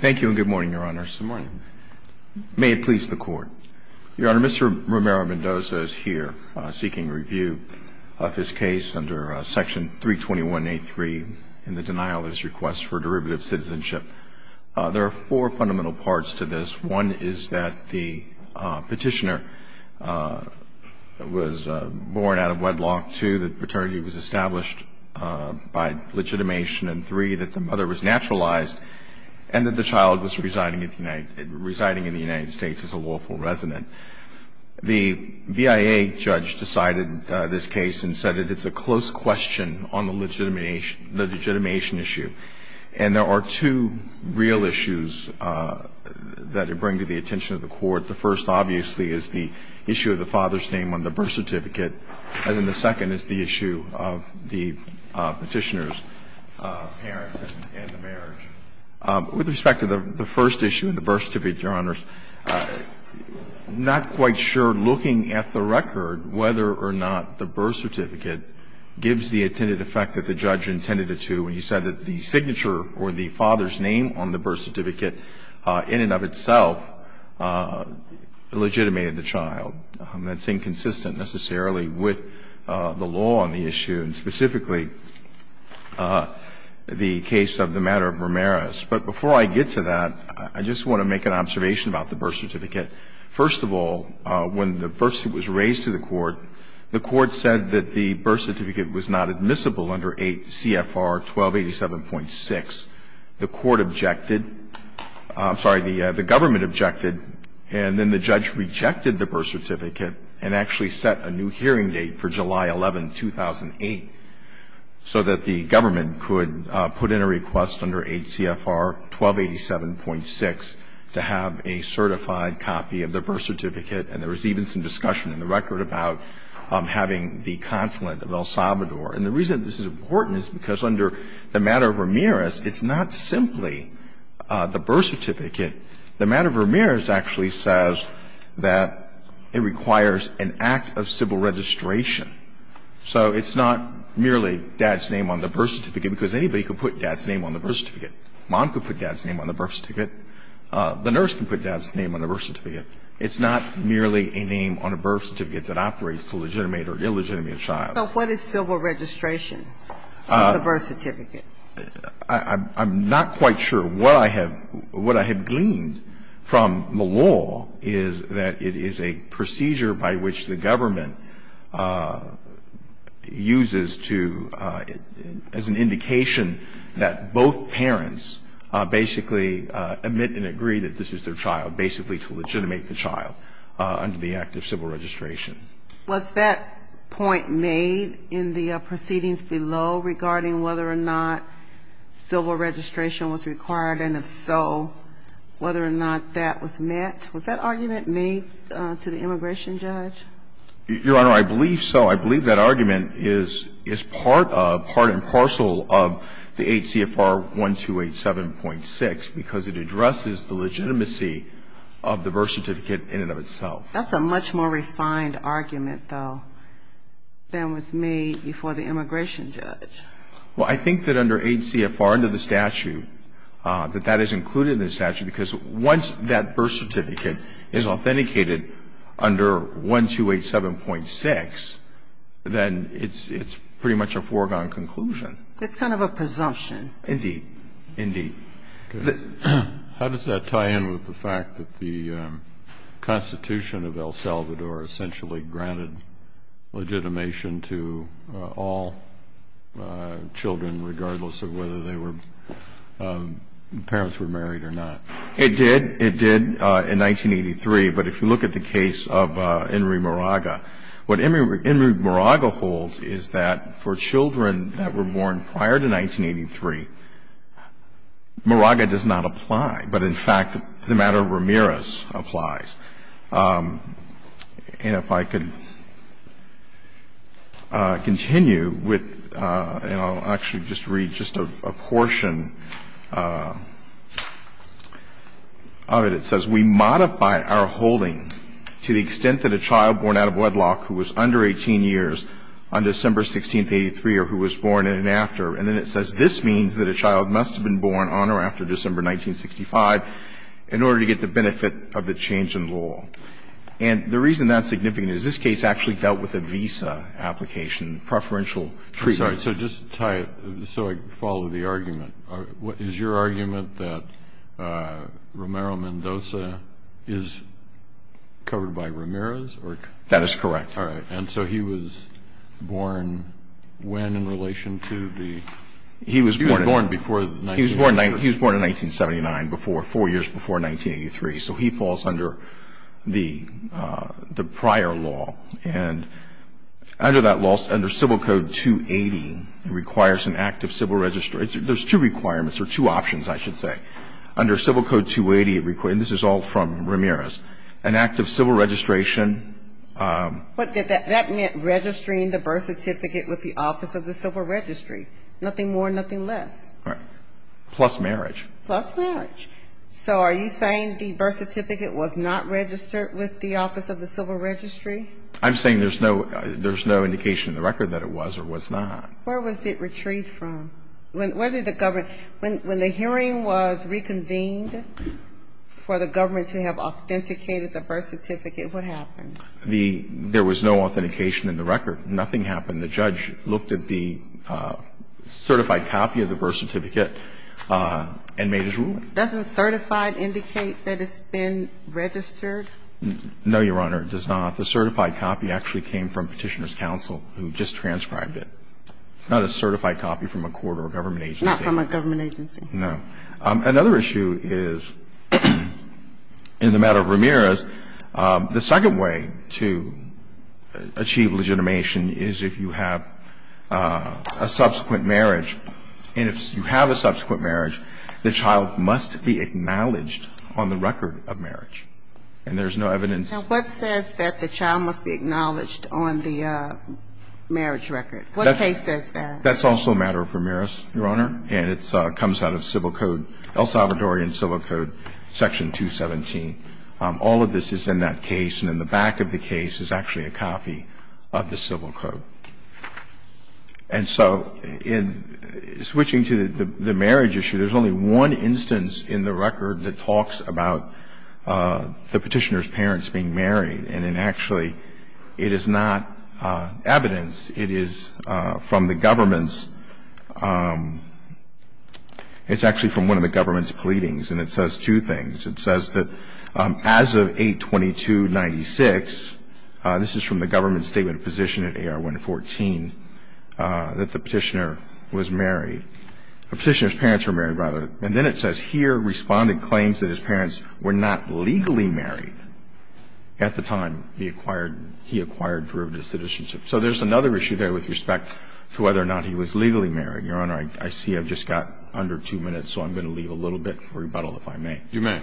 Thank you and good morning, Your Honor. Good morning. May it please the Court. Your Honor, Mr. Romero-Mendoza is here seeking review of his case under Section 321.83 in the denial of his request for derivative citizenship. There are four fundamental parts to this. One is that the petitioner was born out of wedlock. Two, that paternity was established by legitimation. And three, that the mother was naturalized and that the child was residing in the United States as a lawful resident. The BIA judge decided this case and said that it's a close question on the legitimation issue. And there are two real issues that it brings to the attention of the Court. The first, obviously, is the issue of the father's name on the birth certificate. And then the second is the issue of the petitioner's parents and the marriage. With respect to the first issue, the birth certificate, Your Honors, I'm not quite sure, looking at the record, whether or not the birth certificate gives the intended effect that the judge intended it to when he said that the signature or the father's name on the birth certificate in and of itself legitimated the child. That's inconsistent necessarily with the law on the issue, and specifically the case of the matter of Ramirez. But before I get to that, I just want to make an observation about the birth certificate. First of all, when the birth certificate was raised to the Court, the Court said that the birth certificate was not admissible under 8 CFR 1287.6. The Court objected. I'm sorry. The government objected. And then the judge rejected the birth certificate and actually set a new hearing date for July 11, 2008, so that the government could put in a request under 8 CFR 1287.6 to have a certified copy of the birth certificate. And there was even some discussion in the record about having the consulate of El Salvador. And the reason this is important is because under the matter of Ramirez, it's not simply the birth certificate. The matter of Ramirez actually says that it requires an act of civil registration. So it's not merely dad's name on the birth certificate, because anybody could put dad's name on the birth certificate. Mom could put dad's name on the birth certificate. The nurse can put dad's name on the birth certificate. It's not merely a name on a birth certificate that operates to legitimate or illegitimate a child. So what is civil registration on the birth certificate? I'm not quite sure. What I have gleaned from the law is that it is a procedure by which the government uses to as an indication that both parents basically admit and agree that this is their And that's the only way that they can legitimate the child under the act of civil registration. Was that point made in the proceedings below regarding whether or not civil registration was required, and if so, whether or not that was met? Was that argument made to the immigration judge? Your Honor, I believe so. I believe that argument is part and parcel of the 8 CFR 1287.6, because it addresses the legitimacy of the birth certificate in and of itself. That's a much more refined argument, though, than was made before the immigration judge. Well, I think that under 8 CFR under the statute, that that is included in the statute, because once that birth certificate is authenticated under 1287.6, then it's pretty much a foregone conclusion. It's kind of a presumption. Indeed. Indeed. How does that tie in with the fact that the Constitution of El Salvador essentially granted legitimation to all children, regardless of whether they were parents were married or not? It did. It did in 1983. But if you look at the case of Enri Moraga, what Enri Moraga holds is that for children that were born prior to 1983, Moraga does not apply. But, in fact, the matter of Ramirez applies. And if I could continue with, and I'll actually just read just a portion of it. It says, We modify our holding to the extent that a child born out of wedlock who was under 18 years on December 16, 1983, or who was born in and after. And then it says this means that a child must have been born on or after December 1965 in order to get the benefit of the change in law. And the reason that's significant is this case actually dealt with a visa application, preferential treatment. I'm sorry. So just to tie it so I can follow the argument. Is your argument that Romero Mendoza is covered by Ramirez? That is correct. All right. And so he was born when in relation to the he was born before? He was born in 1979, four years before 1983. So he falls under the prior law. And under that law, under Civil Code 280, it requires an act of civil registration. There's two requirements or two options, I should say. Under Civil Code 280, and this is all from Ramirez, an act of civil registration. But that meant registering the birth certificate with the office of the civil registry, nothing more, nothing less. Right. Plus marriage. Plus marriage. So are you saying the birth certificate was not registered with the office of the civil registry? I'm saying there's no indication in the record that it was or was not. Where was it retrieved from? When the hearing was reconvened for the government to have authenticated the birth certificate, what happened? There was no authentication in the record. Nothing happened. And the judge looked at the certified copy of the birth certificate and made his ruling. Doesn't certified indicate that it's been registered? No, Your Honor, it does not. The certified copy actually came from Petitioner's Counsel, who just transcribed it. It's not a certified copy from a court or a government agency. Not from a government agency. No. And if you have a subsequent marriage, the child must be acknowledged on the record of marriage. And there's no evidence. Now, what says that the child must be acknowledged on the marriage record? What case says that? That's also a matter of Ramirez, Your Honor. It's not a matter of Ramirez. It's not a matter of Ramirez. It's a matter of Ramirez. All of this is in that case. And in the back of the case is actually a copy of the Civil Code. And so in switching to the marriage issue, there's only one instance in the record that talks about the Petitioner's parents being married. And actually, it is not evidence. It is from the government's, it's actually from one of the government's pleadings. And it says two things. It says that as of 8-22-96, this is from the government's statement of position at AR-114, that the Petitioner was married. The Petitioner's parents were married, rather. And then it says here, Respondent claims that his parents were not legally married at the time he acquired, he acquired derivative citizenship. So there's another issue there with respect to whether or not he was legally married. Your Honor, I see I've just got under two minutes, so I'm going to leave a little bit for rebuttal, if I may. You may.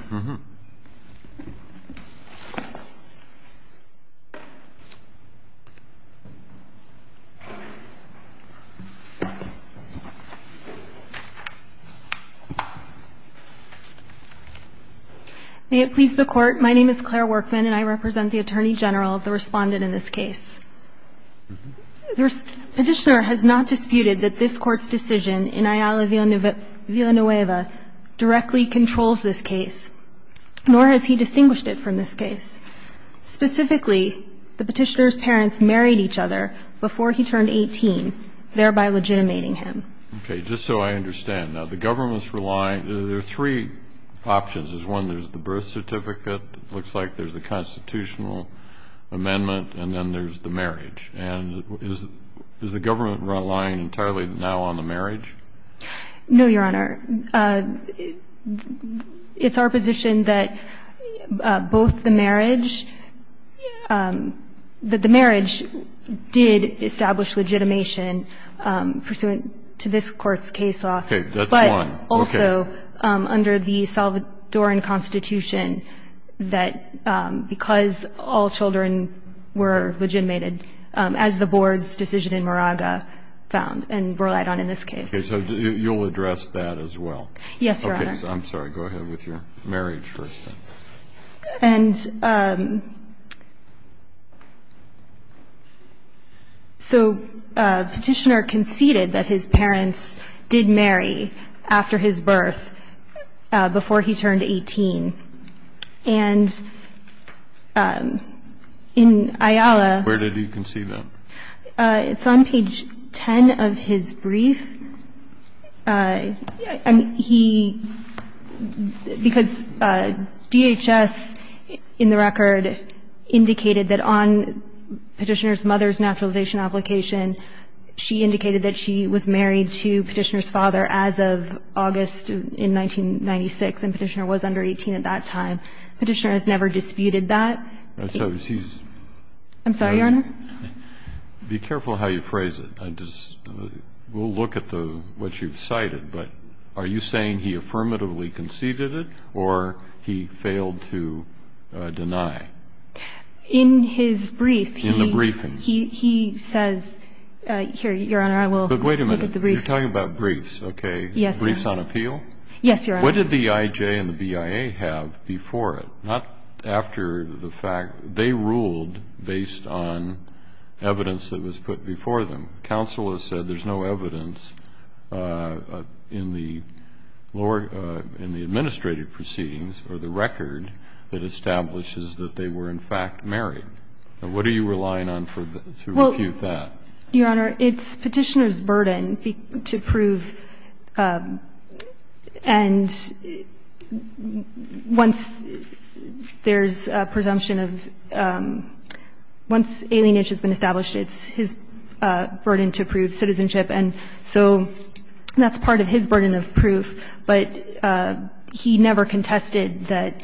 May it please the Court. My name is Claire Workman, and I represent the Attorney General, the Respondent in this case. The Petitioner has not disputed that this Court's decision in Ayala Villanueva directly controls this case, nor has he distinguished it from this case. Specifically, the Petitioner's parents married each other before he turned 18, thereby legitimating him. Okay. Just so I understand. Now, the government's relying, there are three options. There's one, there's the birth certificate. It looks like there's the constitutional amendment. And then there's the marriage. And is the government relying entirely now on the marriage? No, Your Honor. It's our position that both the marriage, that the marriage did establish legitimation pursuant to this Court's case law. Okay. That's one. Okay. But also, under the Salvadoran Constitution, that because all children were legitimated, as the Board's decision in Moraga found and relied on in this case. Okay. So you'll address that as well. Yes, Your Honor. Okay. I'm sorry. Go ahead with your marriage first. And so Petitioner conceded that his parents did marry after his birth, before he turned 18. And in Ayala. Where did he concede that? It's on page 10 of his brief. He – because DHS, in the record, indicated that on Petitioner's mother's naturalization application, she indicated that she was married to Petitioner's father as of August in 1996, and Petitioner was under 18 at that time. Petitioner has never disputed that. I'm sorry, Your Honor. Be careful how you phrase it. We'll look at what you've cited. But are you saying he affirmatively conceded it, or he failed to deny? In his brief, he – In the briefing. He says – here, Your Honor, I will look at the brief. But wait a minute. You're talking about briefs. Okay. Yes, Your Honor. Briefs on appeal? Yes, Your Honor. What did the IJ and the BIA have before it? Not after the fact. They ruled based on evidence that was put before them. Counsel has said there's no evidence in the lower – in the administrative proceedings or the record that establishes that they were, in fact, married. Now, what are you relying on for – to refute that? Your Honor, it's Petitioner's burden to prove. And once there's a presumption of – once alienation has been established, it's his burden to prove citizenship. And so that's part of his burden of proof. But he never contested that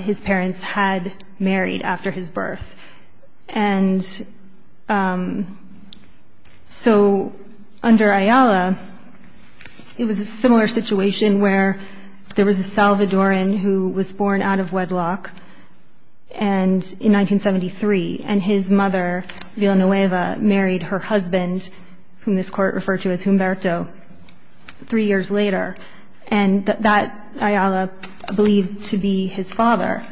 his parents had married after his birth. And so under Ayala, it was a similar situation where there was a Salvadoran who was born out of wedlock and – in 1973. And his mother, Villanueva, married her husband, whom this Court referred to as Humberto, three years later. And that Ayala believed to be his father.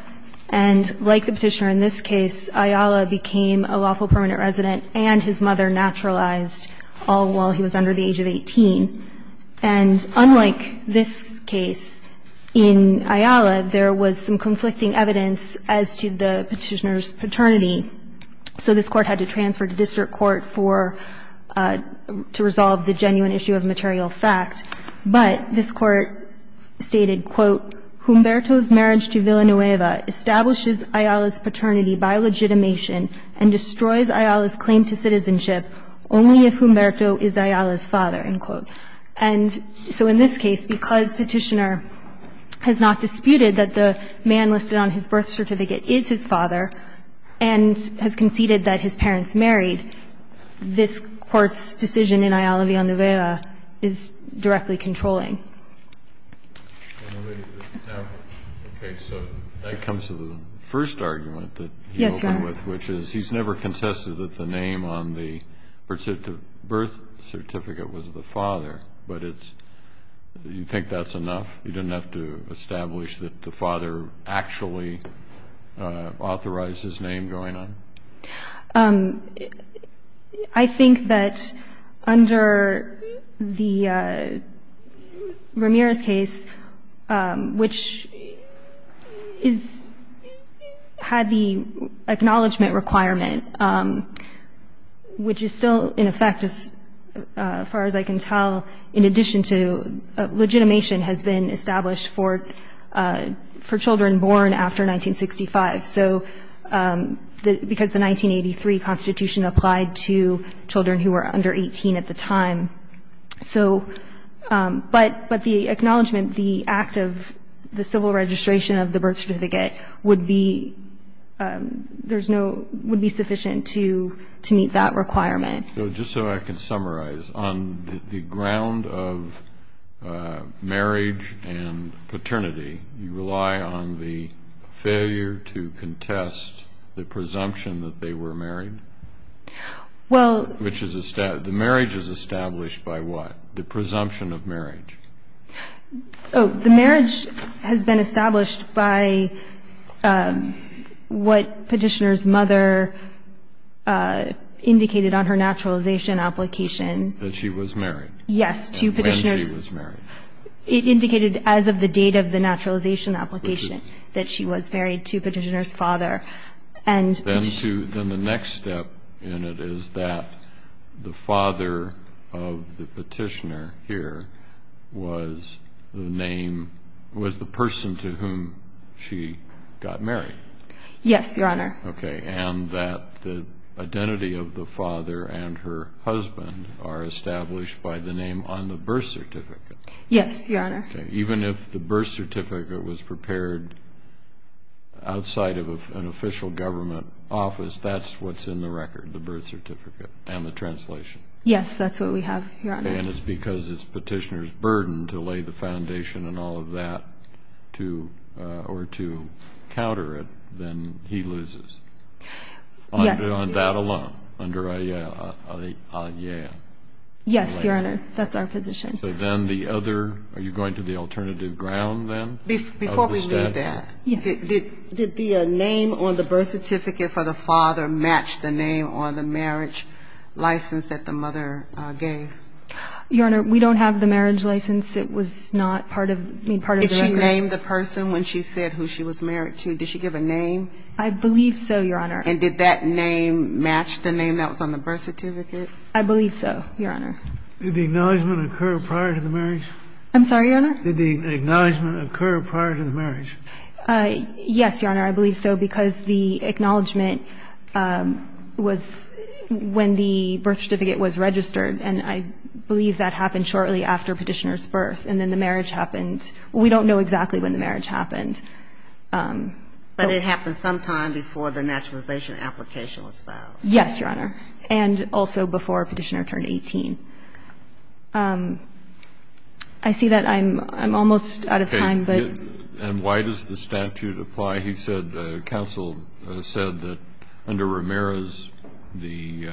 And like the Petitioner in this case, Ayala became a lawful permanent resident and his mother naturalized, all while he was under the age of 18. And unlike this case, in Ayala, there was some conflicting evidence as to the Petitioner's paternity. So this Court had to transfer to district court for – to resolve the genuine issue of material fact. But this Court stated, quote, Humberto's marriage to Villanueva establishes Ayala's paternity by legitimation and destroys Ayala's claim to citizenship only if Humberto is Ayala's father, end quote. And so in this case, because Petitioner has not disputed that the man listed on his birth certificate is his father and has conceded that his parents married, this Court's opinion in Ayala Villanueva is directly controlling. Okay. So that comes to the first argument that you open with, which is he's never contested that the name on the birth certificate was the father. But it's – do you think that's enough? You didn't have to establish that the father actually authorized his name going on? I think that under the Ramirez case, which is – had the acknowledgment requirement, which is still in effect, as far as I can tell, in addition to legitimation has been established for children born after 1965. So because the 1983 Constitution applied to children who were under 18 at the time. So – but the acknowledgment, the act of the civil registration of the birth certificate would be – there's no – would be sufficient to meet that requirement. So just so I can summarize, on the ground of marriage and paternity, you rely on the failure to contest the presumption that they were married? Well – Which is – the marriage is established by what? The presumption of marriage. Oh, the marriage has been established by what Petitioner's mother indicated on her naturalization application. That she was married. Yes. To Petitioner's – When she was married. It indicated as of the date of the naturalization application that she was married to Petitioner's father. And – Then to – then the next step in it is that the father of the petitioner here was the name – was the person to whom she got married? Yes, Your Honor. Okay. And that the identity of the father and her husband are established by the name on the birth certificate. Yes, Your Honor. Okay. Even if the birth certificate was prepared outside of an official government office, that's what's in the record, the birth certificate and the translation? Yes, that's what we have, Your Honor. Okay. And it's because it's Petitioner's burden to lay the foundation and all of that to – or to counter it, then he loses. Yes. On that alone, under AIEA. Yes, Your Honor. That's our position. So then the other – are you going to the alternative ground then? Before we leave that, did the name on the birth certificate for the father match the name on the marriage license that the mother gave? Your Honor, we don't have the marriage license. It was not part of the record. Did she name the person when she said who she was married to? Did she give a name? I believe so, Your Honor. And did that name match the name that was on the birth certificate? I believe so, Your Honor. Did the acknowledgment occur prior to the marriage? I'm sorry, Your Honor? Did the acknowledgment occur prior to the marriage? Yes, Your Honor. I believe so, because the acknowledgment was when the birth certificate was registered, and I believe that happened shortly after Petitioner's birth, and then the marriage happened. We don't know exactly when the marriage happened. But it happened sometime before the naturalization application was filed. Yes, Your Honor. And also before Petitioner turned 18. I see that I'm almost out of time. Okay. And why does the statute apply? He said the counsel said that under Ramirez, the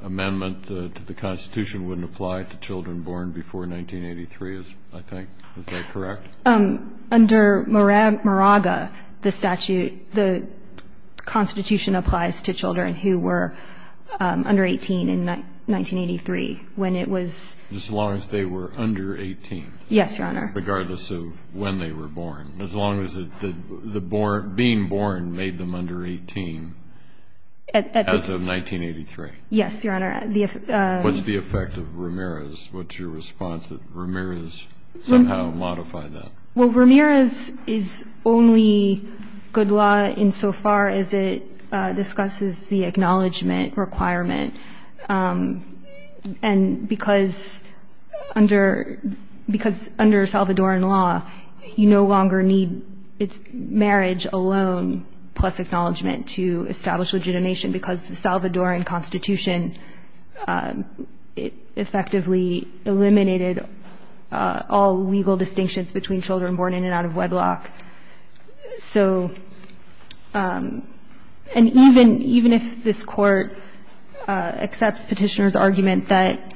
amendment to the Constitution wouldn't apply to children born before 1983, I think. Under Moraga, the statute, the Constitution, applies to children who were under 18 in 1983 when it was. As long as they were under 18. Yes, Your Honor. Regardless of when they were born. As long as being born made them under 18 as of 1983. Yes, Your Honor. What's the effect of Ramirez? What's your response that Ramirez somehow modified that? Well, Ramirez is only good law insofar as it discusses the acknowledgement requirement, and because under Salvadoran law, you no longer need marriage alone plus acknowledgement to establish legitimation because the Salvadoran Constitution effectively eliminated all legal distinctions between children born in and out of wedlock. So, and even if this Court accepts Petitioner's argument that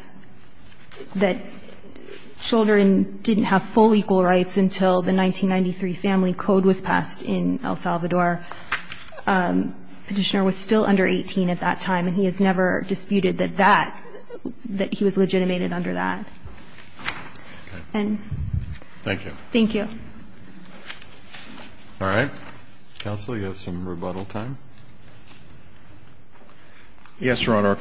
children didn't have full equal rights until the 1993 family code was passed in El Salvador, Petitioner was still under 18 at that time, and he has never disputed that that, that he was legitimated under that. And thank you. Thank you. All right. Counsel, you have some rebuttal time. Yes, Your Honor. A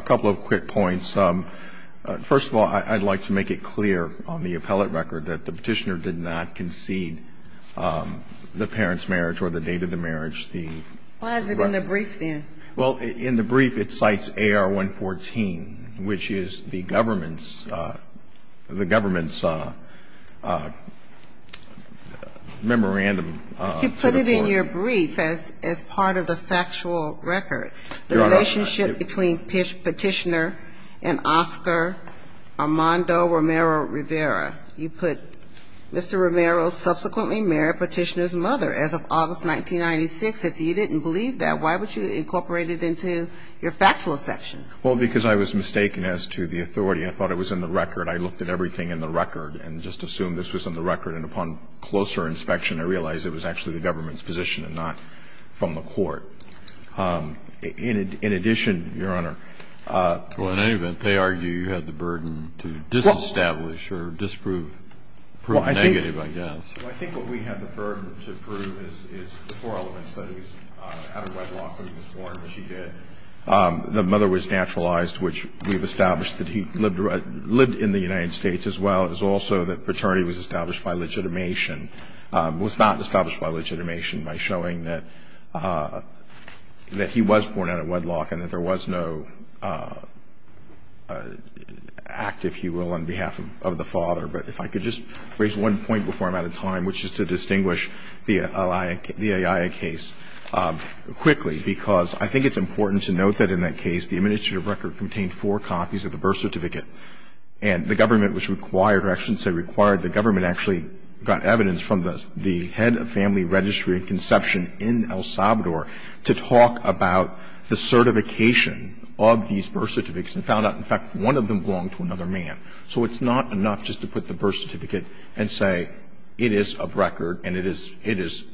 couple of quick points. First of all, I'd like to make it clear on the appellate record that the Petitioner did not concede the parent's marriage or the date of the marriage. Why is it in the brief then? Well, in the brief, it cites AR-114, which is the government's, the government's memorandum to the court. If you put it in your brief as part of the factual record, the relationship between Petitioner and Oscar Armando Romero Rivera, you put Mr. Romero subsequently married Petitioner's mother as of August 1996. If you didn't believe that, why would you incorporate it into your factual section? Well, because I was mistaken as to the authority. I thought it was in the record. I looked at everything in the record and just assumed this was in the record. And upon closer inspection, I realized it was actually the government's position and not from the court. In addition, Your Honor. Well, in any event, they argue you had the burden to disestablish or disprove, prove negative, I guess. Well, I think what we had the burden to prove is the four elements that he was out of wedlock when he was born, which he did. The mother was naturalized, which we've established that he lived in the United States as well. It was also that paternity was established by legitimation. It was not established by legitimation by showing that he was born out of wedlock and that there was no act, if you will, on behalf of the father. But if I could just raise one point before I'm out of time, which is to distinguish the Ayala case quickly, because I think it's important to note that in that case, the administrative record contained four copies of the birth certificate. And the government was required, or I shouldn't say required, the government actually got evidence from the head of family registry and conception in El Salvador to talk about the certification of these birth certificates and found out, in fact, one of them belonged to another man. So it's not enough just to put the birth certificate and say it is of record and it is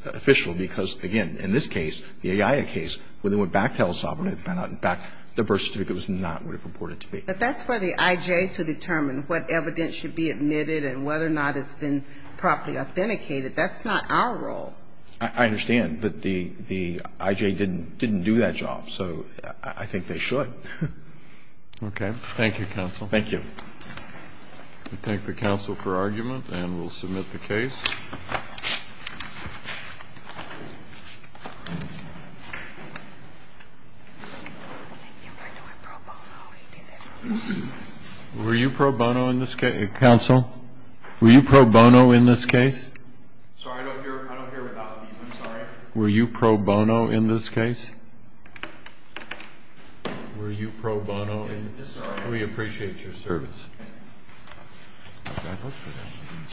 official, because, again, in this case, the Ayala case, when they went back to El Salvador, they found out, in fact, the birth certificate was not what it reported to be. But that's for the I.J. to determine what evidence should be admitted and whether or not it's been properly authenticated. That's not our role. I understand. But the I.J. didn't do that job. So I think they should. Okay. Thank you, counsel. Thank you. We thank the counsel for argument and will submit the case. Were you pro bono in this case? Counsel? Were you pro bono in this case? Were you pro bono in this case? Were you pro bono in this case? We appreciate your service.